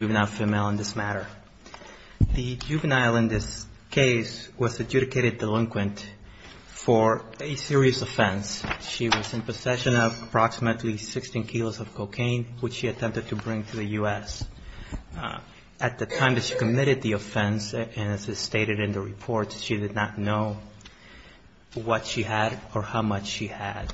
in this matter. The juvenile in this case was adjudicated delinquent for a serious offense. She was in possession of approximately 16 kilos of cocaine, which she attempted to bring to the U.S. At the time that she committed the offense, as is stated in the report, she did not know what she had or how much she had.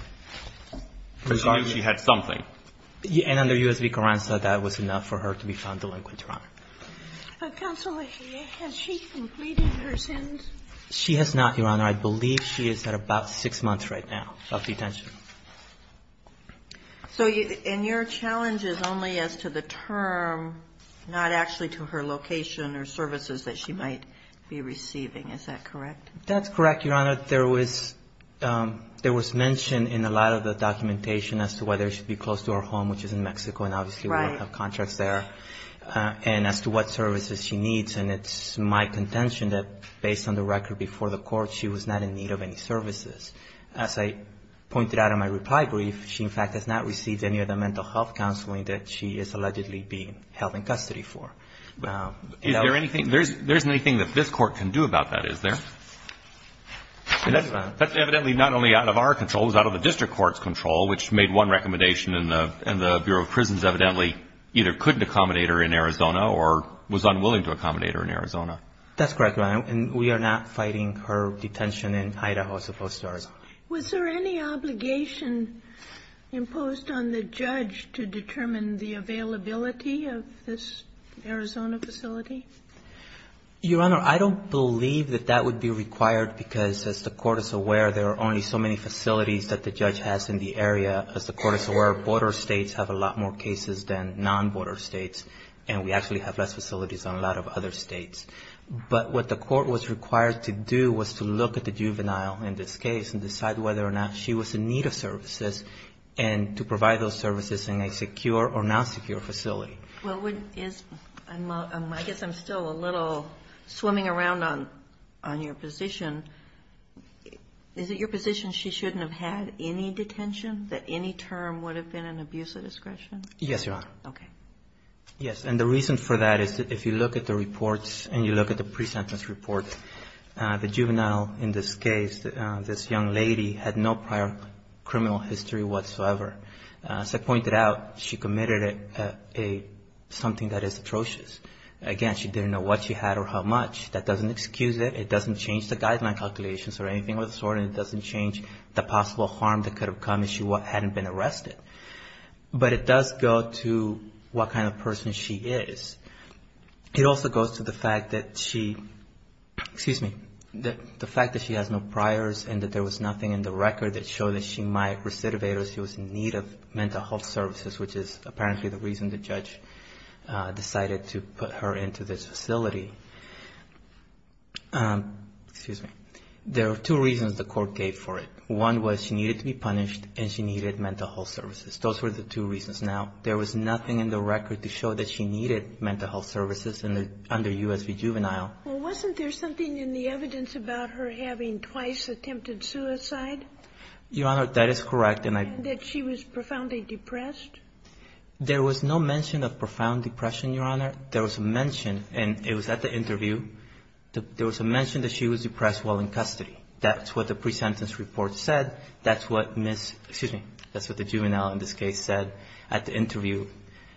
And under U.S. v. Carranza, that was enough for her to be found delinquent, Your Honor. Counsel, has she completed her sentence? She has not, Your Honor. I believe she is at about six months right now of detention. So in your challenge is only as to the term, not actually to her location or services that she might be receiving. Is that correct? That's correct, Your Honor. There was mention in a lot of the documentation as to whether she should be close to her home, which is in Mexico, and obviously we don't have contracts there, and as to what services she needs. And it's my contention that based on the record before the Court, she was not in need of any services. As I pointed out in my reply brief, she, in fact, has not received any of the mental health counseling that she is allegedly being held in custody for. Is there anything that this Court can do about that? Is there? That's evidently not only out of our control. It was out of the district court's control, which made one recommendation, and the Bureau of Prisons evidently either couldn't accommodate her in Arizona or was unwilling to accommodate her in Arizona. That's correct, Your Honor. And we are not fighting her detention in Idaho as opposed to Arizona. Was there any obligation imposed on the judge to determine the availability of this Arizona facility? Your Honor, I don't believe that that would be required because, as the Court is aware, there are only so many facilities that the judge has in the area. As the Court is aware, border states have a lot more cases than non-border states, and we actually have less facilities than a lot of other states. But what the Court was required to do was to look at the juvenile in this case and decide whether or not she was in need of services and to provide those services in a secure or non-secure facility. Well, I guess I'm still a little swimming around on your position. Is it your position she shouldn't have had any detention, that any term would have been an abuse of discretion? Yes, Your Honor. Okay. Yes, and the reason for that is if you look at the reports and you look at the pre-sentence reports, the juvenile in this case, this young lady, had no prior criminal history whatsoever. As I pointed out, she committed something that is atrocious. Again, she didn't know what she had or how much. That doesn't excuse it. It doesn't change the guideline calculations or anything of the sort, and it doesn't change the possible harm that could have come if she hadn't been arrested. But it does go to what kind of person she is. It also goes to the fact that she has no priors and that there was nothing in the record that showed that she might recidivate or she was in need of mental health services, which is apparently the reason the judge decided to put her into this facility. There are two reasons the Court gave for it. One was she needed to be punished and she needed mental health services. Those were the two reasons. Now, there was nothing in the record to show that she needed mental health services under U.S. v. Juvenile. Well, wasn't there something in the evidence about her having twice attempted suicide? Your Honor, that is correct. And that she was profoundly depressed? There was no mention of profound depression, Your Honor. There was a mention, and it was at the interview, there was a mention that she was depressed while in custody. That's what the pre-sentence report said. That's what Ms. — excuse me, that's what the juvenile in this case said at the interview.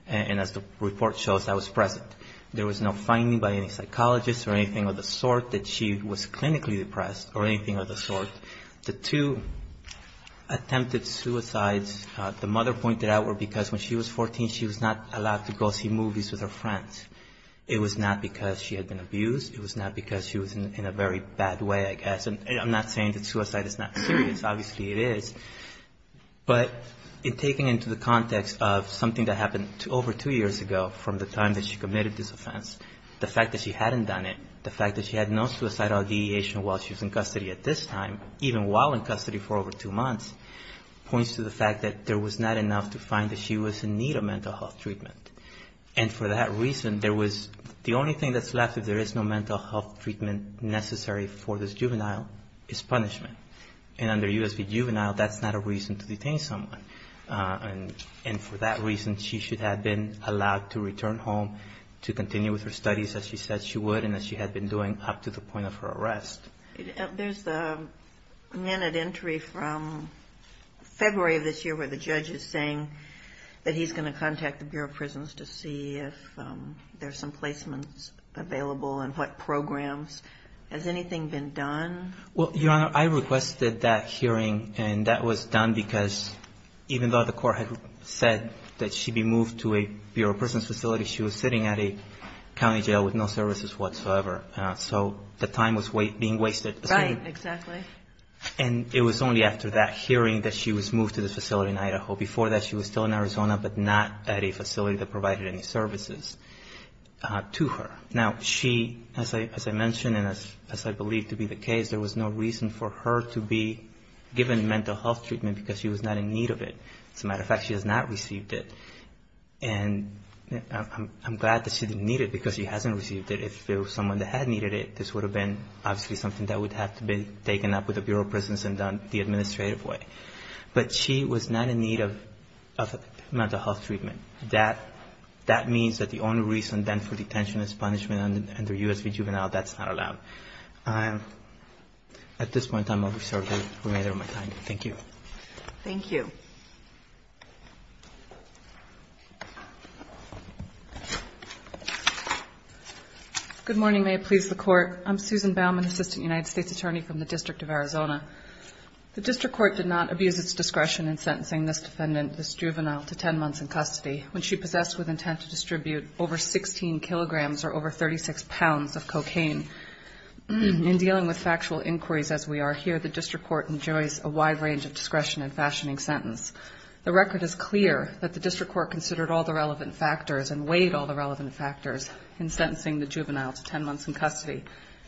And as the report shows, that was present. There was no finding by any psychologist or anything of the sort that she was clinically depressed or anything of the sort. The two attempted suicides the mother pointed out were because when she was 14, she was not allowed to go see movies with her friends. It was not because she had been abused. It was not because she was in a very bad way, I guess. And I'm not saying that suicide is not serious. Obviously, it is. But in taking into the context of something that happened over two years ago from the time that she committed this offense, the fact that she hadn't done it, the fact that she had no suicidal ideation while she was in custody at this time, even while in custody for over two months, points to the fact that there was not enough to find that she was in need of mental health treatment. And for that reason, the only thing that's left, if there is no mental health treatment necessary for this juvenile, is punishment. And under U.S. v. Juvenile, that's not a reason to detain someone. And for that reason, she should have been allowed to return home to continue with her studies as she said she would and as she had been doing up to the point of her arrest. There's a minute entry from February of this year where the judge is saying that he's going to contact the Bureau of Prisons to see if there's some placements available and what programs. Has anything been done? Well, Your Honor, I requested that hearing, and that was done because even though the court had said that she be moved to a Bureau of Prisons facility, she was sitting at a county jail with no services whatsoever. So the time was being wasted. Right, exactly. And it was only after that hearing that she was moved to this facility in Idaho. Before that, she was still in Arizona, but not at a facility that provided any services to her. Now, she, as I mentioned and as I believe to be the case, there was no reason for her to be given mental health treatment because she was not in need of it. As a matter of fact, she has not received it. And I'm glad that she didn't need it because she hasn't received it. If there was someone that had needed it, this would have been obviously something that would have to be taken up with the Bureau of Prisons and done the administrative way. But she was not in need of mental health treatment. That means that the only reason then for detention is punishment under U.S. juvenile. That's not allowed. At this point, I'm going to reserve the remainder of my time. Thank you. Thank you. Good morning. May it please the Court. I'm Susan Baumann, Assistant United States Attorney from the District of Arizona. The District Court did not abuse its discretion in sentencing this defendant, this juvenile, to 10 months in custody when she possessed with intent to distribute over 16 kilograms or over 36 pounds of cocaine. In dealing with factual inquiries as we are here, the District Court enjoys a wide range of discretion in fashioning sentence. The record is clear that the District Court considered all the relevant factors and weighed all the relevant factors in sentencing the juvenile to 10 months in custody.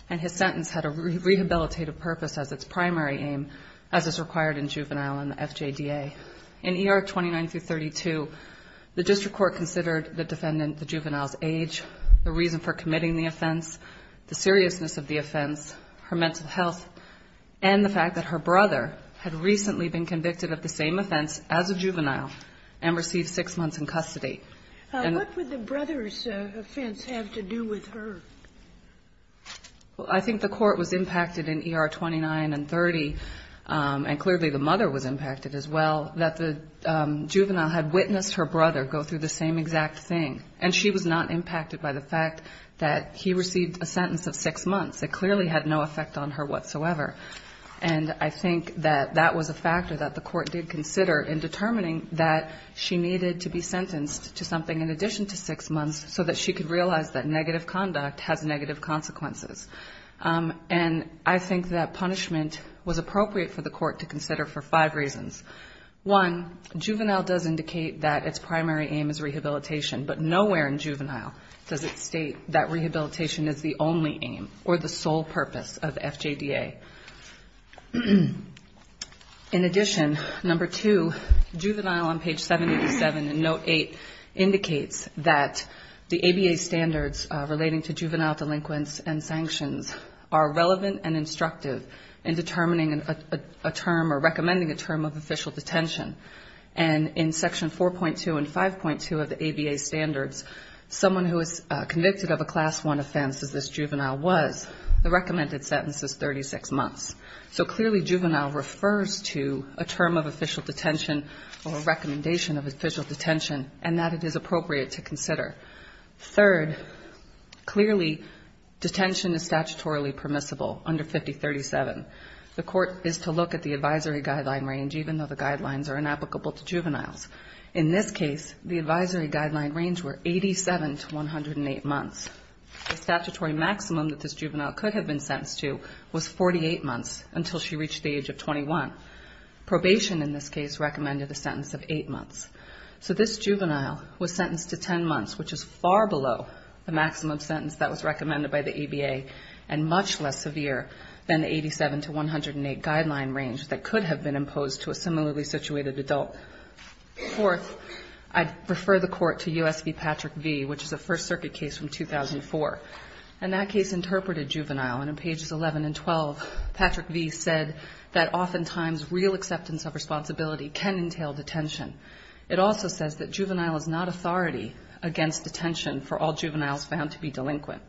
And his sentence had a rehabilitative purpose as its primary aim, as is required in juvenile in the FJDA. In ER 29-32, the District Court considered the defendant the juvenile's age, the reason for committing the offense, the seriousness of the offense, her mental health, and the fact that her brother had recently been convicted of the same offense as a juvenile and received six months in custody. What would the brother's offense have to do with her? Well, I think the Court was impacted in ER 29 and 30, and clearly the mother was impacted as well, that the juvenile had witnessed her brother go through the same exact thing. And she was not impacted by the fact that he received a sentence of six months. It clearly had no effect on her whatsoever. And I think that that was a factor that the Court did consider in determining that she needed to be sentenced to something in addition to six months so that she could realize that negative conduct has negative consequences. And I think that punishment was appropriate for the Court to consider for five reasons. One, juvenile does indicate that its primary aim is rehabilitation, but nowhere in juvenile does it state that rehabilitation is the only aim or the sole purpose of FJDA. In addition, number two, juvenile on page 787 in Note 8 indicates that the ABA standards relating to juvenile delinquents and sanctions are relevant and instructive in determining a term or recommending a term of official detention. And in Section 4.2 and 5.2 of the ABA standards, someone who is convicted of a Class I offense, as this juvenile was, the recommended sentence is 36 months. So clearly juvenile refers to a term of official detention or a recommendation of official detention, and that it is appropriate to consider. Third, clearly detention is statutorily permissible under 5037. The Court is to look at the advisory guideline range, even though the guidelines are inapplicable to juveniles. In this case, the advisory guideline range were 87 to 108 months. The statutory maximum that this juvenile could have been sentenced to was 48 months until she reached the age of 21. Probation in this case recommended a sentence of eight months. So this juvenile was sentenced to 10 months, which is far below the maximum sentence that was recommended by the ABA and much less severe than the 87 to 108 guideline range that could have been imposed to a similarly situated adult. Fourth, I'd refer the Court to U.S. v. Patrick V., which is a First Circuit case from 2004. And that case interpreted juvenile. And on pages 11 and 12, Patrick V. said that oftentimes real acceptance of responsibility can entail detention. It also says that juvenile is not authority against detention for all juveniles found to be delinquent.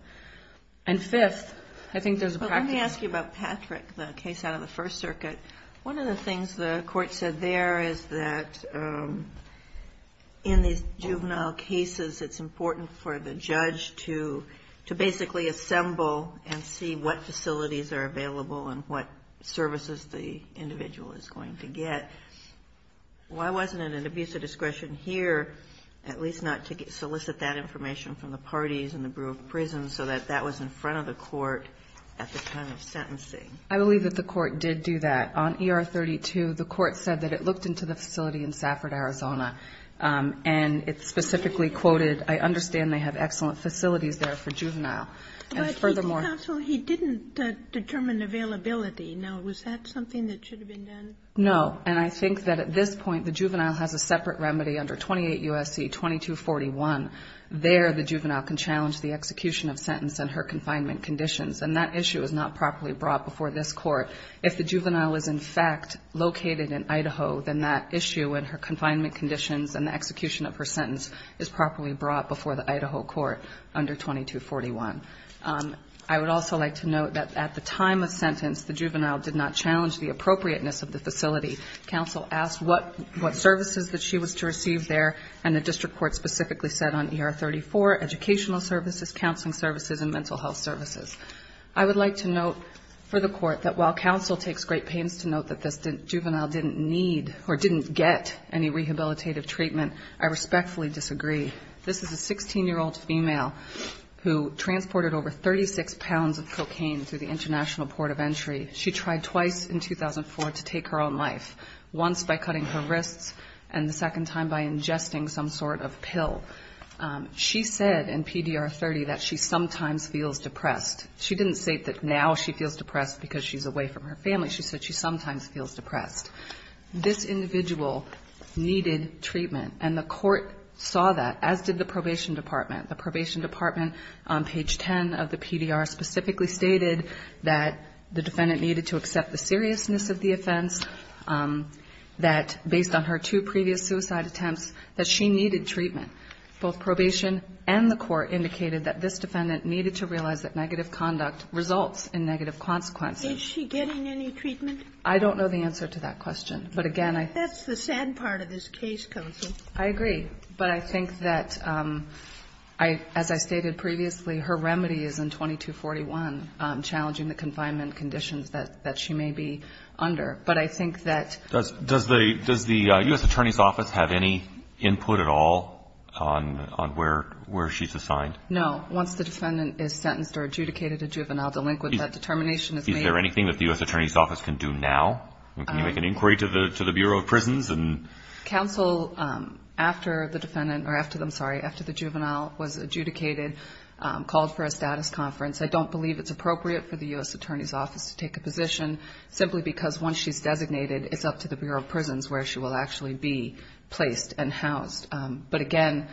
And fifth, I think there's a practice. Kagan. Well, let me ask you about Patrick, the case out of the First Circuit. One of the things the Court said there is that in these juvenile cases, it's important for the judge to basically assemble and see what facilities are available and what services the individual is going to get. Why wasn't it an abuse of discretion here at least not to solicit that information from the parties and the Bureau of Prisons so that that was in front of the Court at the time of sentencing? I believe that the Court did do that. On ER-32, the Court said that it looked into the facility in Safford, Arizona, and it specifically quoted, I understand they have excellent facilities there for juvenile. And furthermore — But, counsel, he didn't determine availability. Now, was that something that should have been done? No. And I think that at this point, the juvenile has a separate remedy under 28 U.S.C. 2241. There, the juvenile can challenge the execution of sentence and her confinement conditions. And that issue is not properly brought before this Court. If the juvenile is, in fact, located in Idaho, then that issue and her confinement conditions and the execution of her sentence is properly brought before the Idaho Court under 2241. I would also like to note that at the time of sentence, the juvenile did not challenge the appropriateness of the facility. Counsel asked what services that she was to receive there. And the district court specifically said on ER-34, educational services, counseling services, and mental health services. I would like to note for the Court that while counsel takes great pains to note that this juvenile didn't need or didn't get any rehabilitative treatment, I respectfully disagree. This is a 16-year-old female who transported over 36 pounds of cocaine through the International Port of Entry. She tried twice in 2004 to take her own life, once by cutting her wrists and the second time by ingesting some sort of pill. She said in PDR-30 that she sometimes feels depressed. She didn't say that now she feels depressed because she's away from her family. She said she sometimes feels depressed. This individual needed treatment, and the Court saw that, as did the probation department. The probation department on page 10 of the PDR specifically stated that the defendant needed to accept the seriousness of the offense, that based on her two previous suicide attempts, that she needed treatment. Both probation and the Court indicated that this defendant needed to realize that negative conduct results in negative consequences. Is she getting any treatment? I don't know the answer to that question. But again, I think that's the sad part of this case, counsel. I agree. But I think that, as I stated previously, her remedy is in 2241, challenging the confinement conditions that she may be under. But I think that does the U.S. Attorney's Office have any input at all on where she's assigned? No. Once the defendant is sentenced or adjudicated a juvenile delinquent, that determination is made. Is there anything that the U.S. Attorney's Office can do now? Can you make an inquiry to the Bureau of Prisons? Counsel, after the juvenile was adjudicated, called for a status conference. I don't believe it's appropriate for the U.S. Attorney's Office to take a position, simply because once she's designated, it's up to the Bureau of Prisons where she will actually be placed and housed. But again,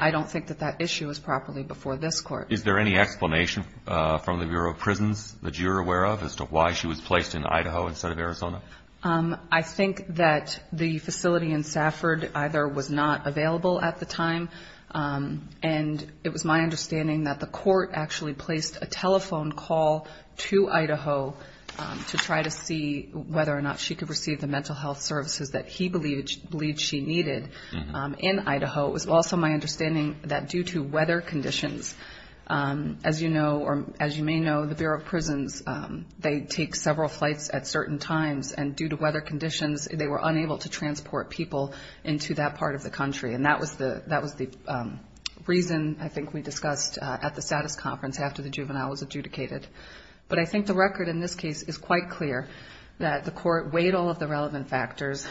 I don't think that that issue is properly before this Court. Is there any explanation from the Bureau of Prisons that you're aware of as to why she was placed in Idaho instead of Arizona? I think that the facility in Safford either was not available at the time, and it was my understanding that the court actually placed a telephone call to Idaho to try to see whether or not she could receive the mental health services that he believed she needed in Idaho. It was also my understanding that due to weather conditions, as you know, or as you may know, the Bureau of Prisons, they take several flights at certain times, and due to weather conditions, they were unable to transport people into that part of the country. And that was the reason, I think, we discussed at the status conference after the juvenile was adjudicated. But I think the record in this case is quite clear, that the court weighed all of the relevant factors,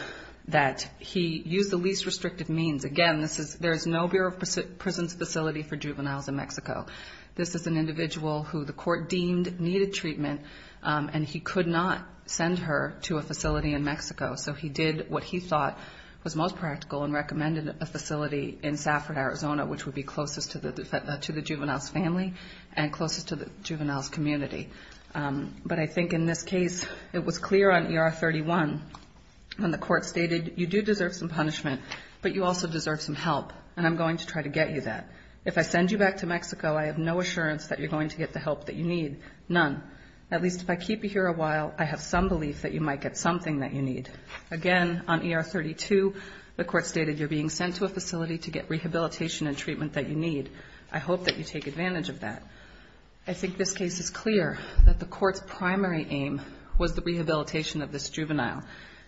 that he used the least restrictive means. Again, there is no Bureau of Prisons facility for juveniles in Mexico. This is an individual who the court deemed needed treatment, and he could not send her to a facility in Mexico. So he did what he thought was most practical and recommended a facility in Safford, Arizona, which would be closest to the juvenile's family and closest to the juvenile's community. But I think in this case, it was clear on ER 31 when the court stated, you do deserve some punishment, but you also deserve some help, and I'm going to try to get you that. If I send you back to Mexico, I have no assurance that you're going to get the help that you need, none. At least if I keep you here a while, I have some belief that you might get something that you need. Again, on ER 32, the court stated you're being sent to a facility to get rehabilitation and treatment that you need. I hope that you take advantage of that. I think this case is clear that the court's primary aim was the rehabilitation of this juvenile.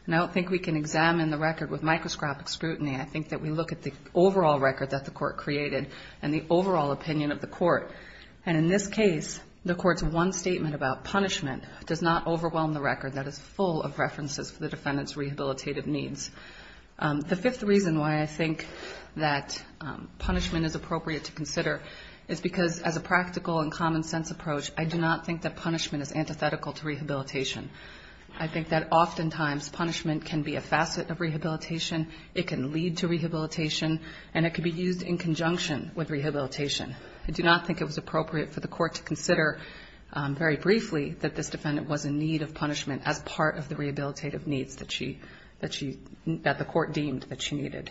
And I don't think we can examine the record with microscopic scrutiny. I think that we look at the overall record that the court created and the overall opinion of the court. And in this case, the court's one statement about punishment does not overwhelm the record that is full of references for the defendant's rehabilitative needs. The fifth reason why I think that punishment is appropriate to consider is because as a practical and common-sense approach, I do not think that punishment is antithetical to rehabilitation. I think that oftentimes punishment can be a facet of rehabilitation, it can lead to rehabilitation, and it can be used in conjunction with rehabilitation. I do not think it was appropriate for the court to consider very briefly that this defendant was in need of punishment as part of the rehabilitative needs that the court deemed that she needed.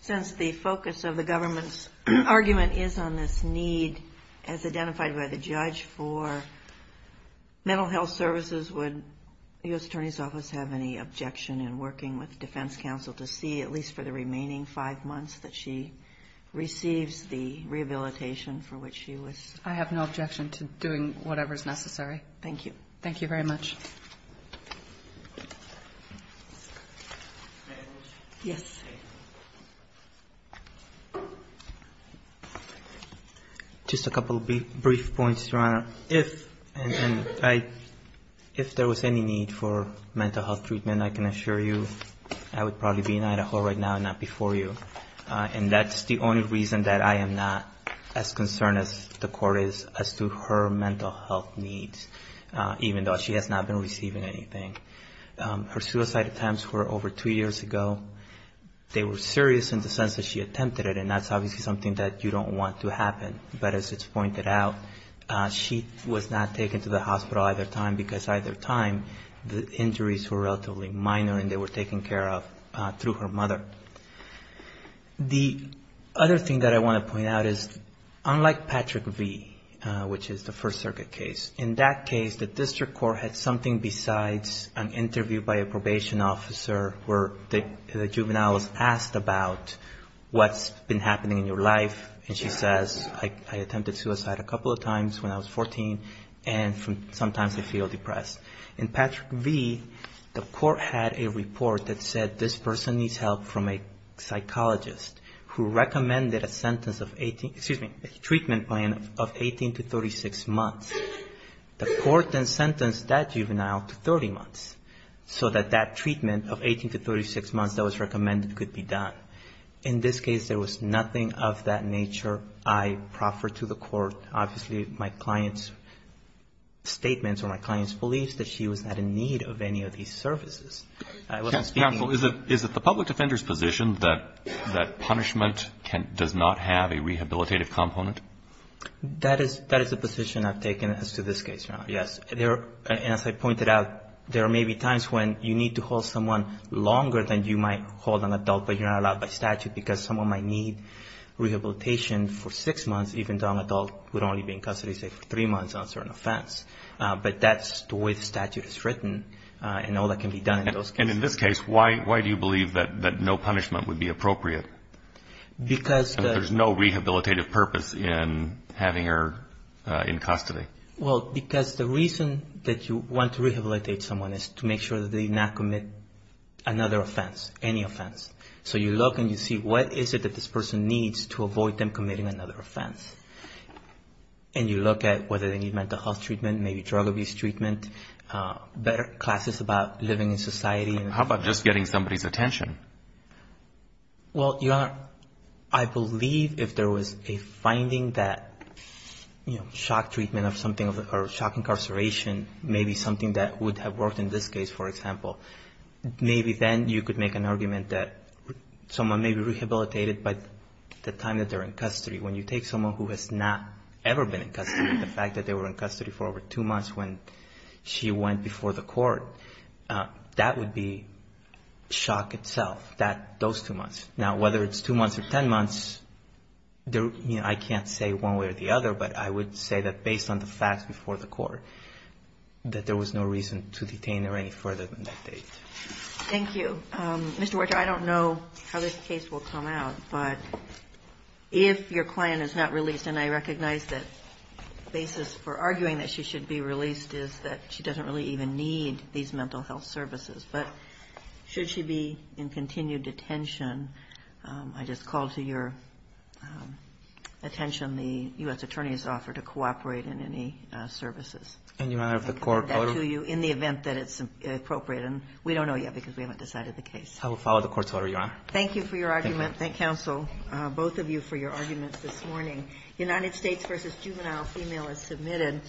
Since the focus of the government's argument is on this need, as identified by the judge, for mental health services, would the U.S. Attorney's Office have any objection in working with the defense counsel to see, at least for the remaining five months, that she receives the rehabilitation for which she was... I have no objection to doing whatever is necessary. Thank you. Thank you very much. Yes. Just a couple of brief points, Your Honor. If there was any need for mental health treatment, I can assure you I would probably be in Idaho right now and not before you. And that's the only reason that I am not as concerned as the court is as to her mental health needs, even though she has not been receiving anything. Her suicide attempts were over two years ago. They were serious in the sense that she attempted it, and that's obviously something that you don't want to happen. But as it's pointed out, she was not taken to the hospital either time because either time the injuries were relatively minor and they were taken care of through her mother. The other thing that I want to point out is, unlike Patrick V., which is the First Circuit case, in that case the district court had something besides an interview by a probation officer where the juvenile was asked about what's been happening in your life, and she says, I attempted suicide a couple of times when I was 14, and sometimes I feel depressed. In Patrick V., the court had a report that said this person needs help from a psychologist who recommended a treatment plan of 18 to 36 months. The court then sentenced that juvenile to 30 months so that that treatment of 18 to 36 months that was recommended could be done. In this case, there was nothing of that nature. I proffered to the court. Obviously, my client's statements or my client's beliefs that she was not in need of any of these services. Counsel, is it the public defender's position that punishment does not have a rehabilitative component? That is the position I've taken as to this case, Your Honor, yes. As I pointed out, there may be times when you need to hold someone longer than you might hold an adult, but you're not allowed by statute because someone might need rehabilitation for six months, even though an adult would only be in custody, say, for three months on a certain offense. But that's the way the statute is written, and all that can be done in those cases. And in this case, why do you believe that no punishment would be appropriate? Because there's no rehabilitative purpose in having her in custody. Well, because the reason that you want to rehabilitate someone is to make sure that they not commit another offense, any offense. So you look and you see what is it that this person needs to avoid them committing another offense. And you look at whether they need mental health treatment, maybe drug abuse treatment, better classes about living in society. How about just getting somebody's attention? Well, Your Honor, I believe if there was a finding that, you know, shock treatment of something or shock incarceration may be something that would have worked in this case, for example, maybe then you could make an argument that someone may be rehabilitated by the time that they're in custody. When you take someone who has not ever been in custody, the fact that they were in custody for over two months when she went before the court, that would be shock itself, those two months. Now, whether it's two months or ten months, I can't say one way or the other, but I would say that based on the facts before the court, that there was no reason to detain her any further than that date. Thank you. Mr. Werchter, I don't know how this case will come out, but if your client is not released, and I recognize that the basis for arguing that she should be released is that she doesn't really even need these mental health services, but should she be in continued detention, I just call to your attention the U.S. Attorney's offer to cooperate in any services. And, Your Honor, if the court ordered? In the event that it's appropriate, and we don't know yet because we haven't decided the case. I will follow the court's order, Your Honor. Thank you for your argument. Thank you. Counsel, both of you for your arguments this morning. United States v. Juvenile Female is submitted.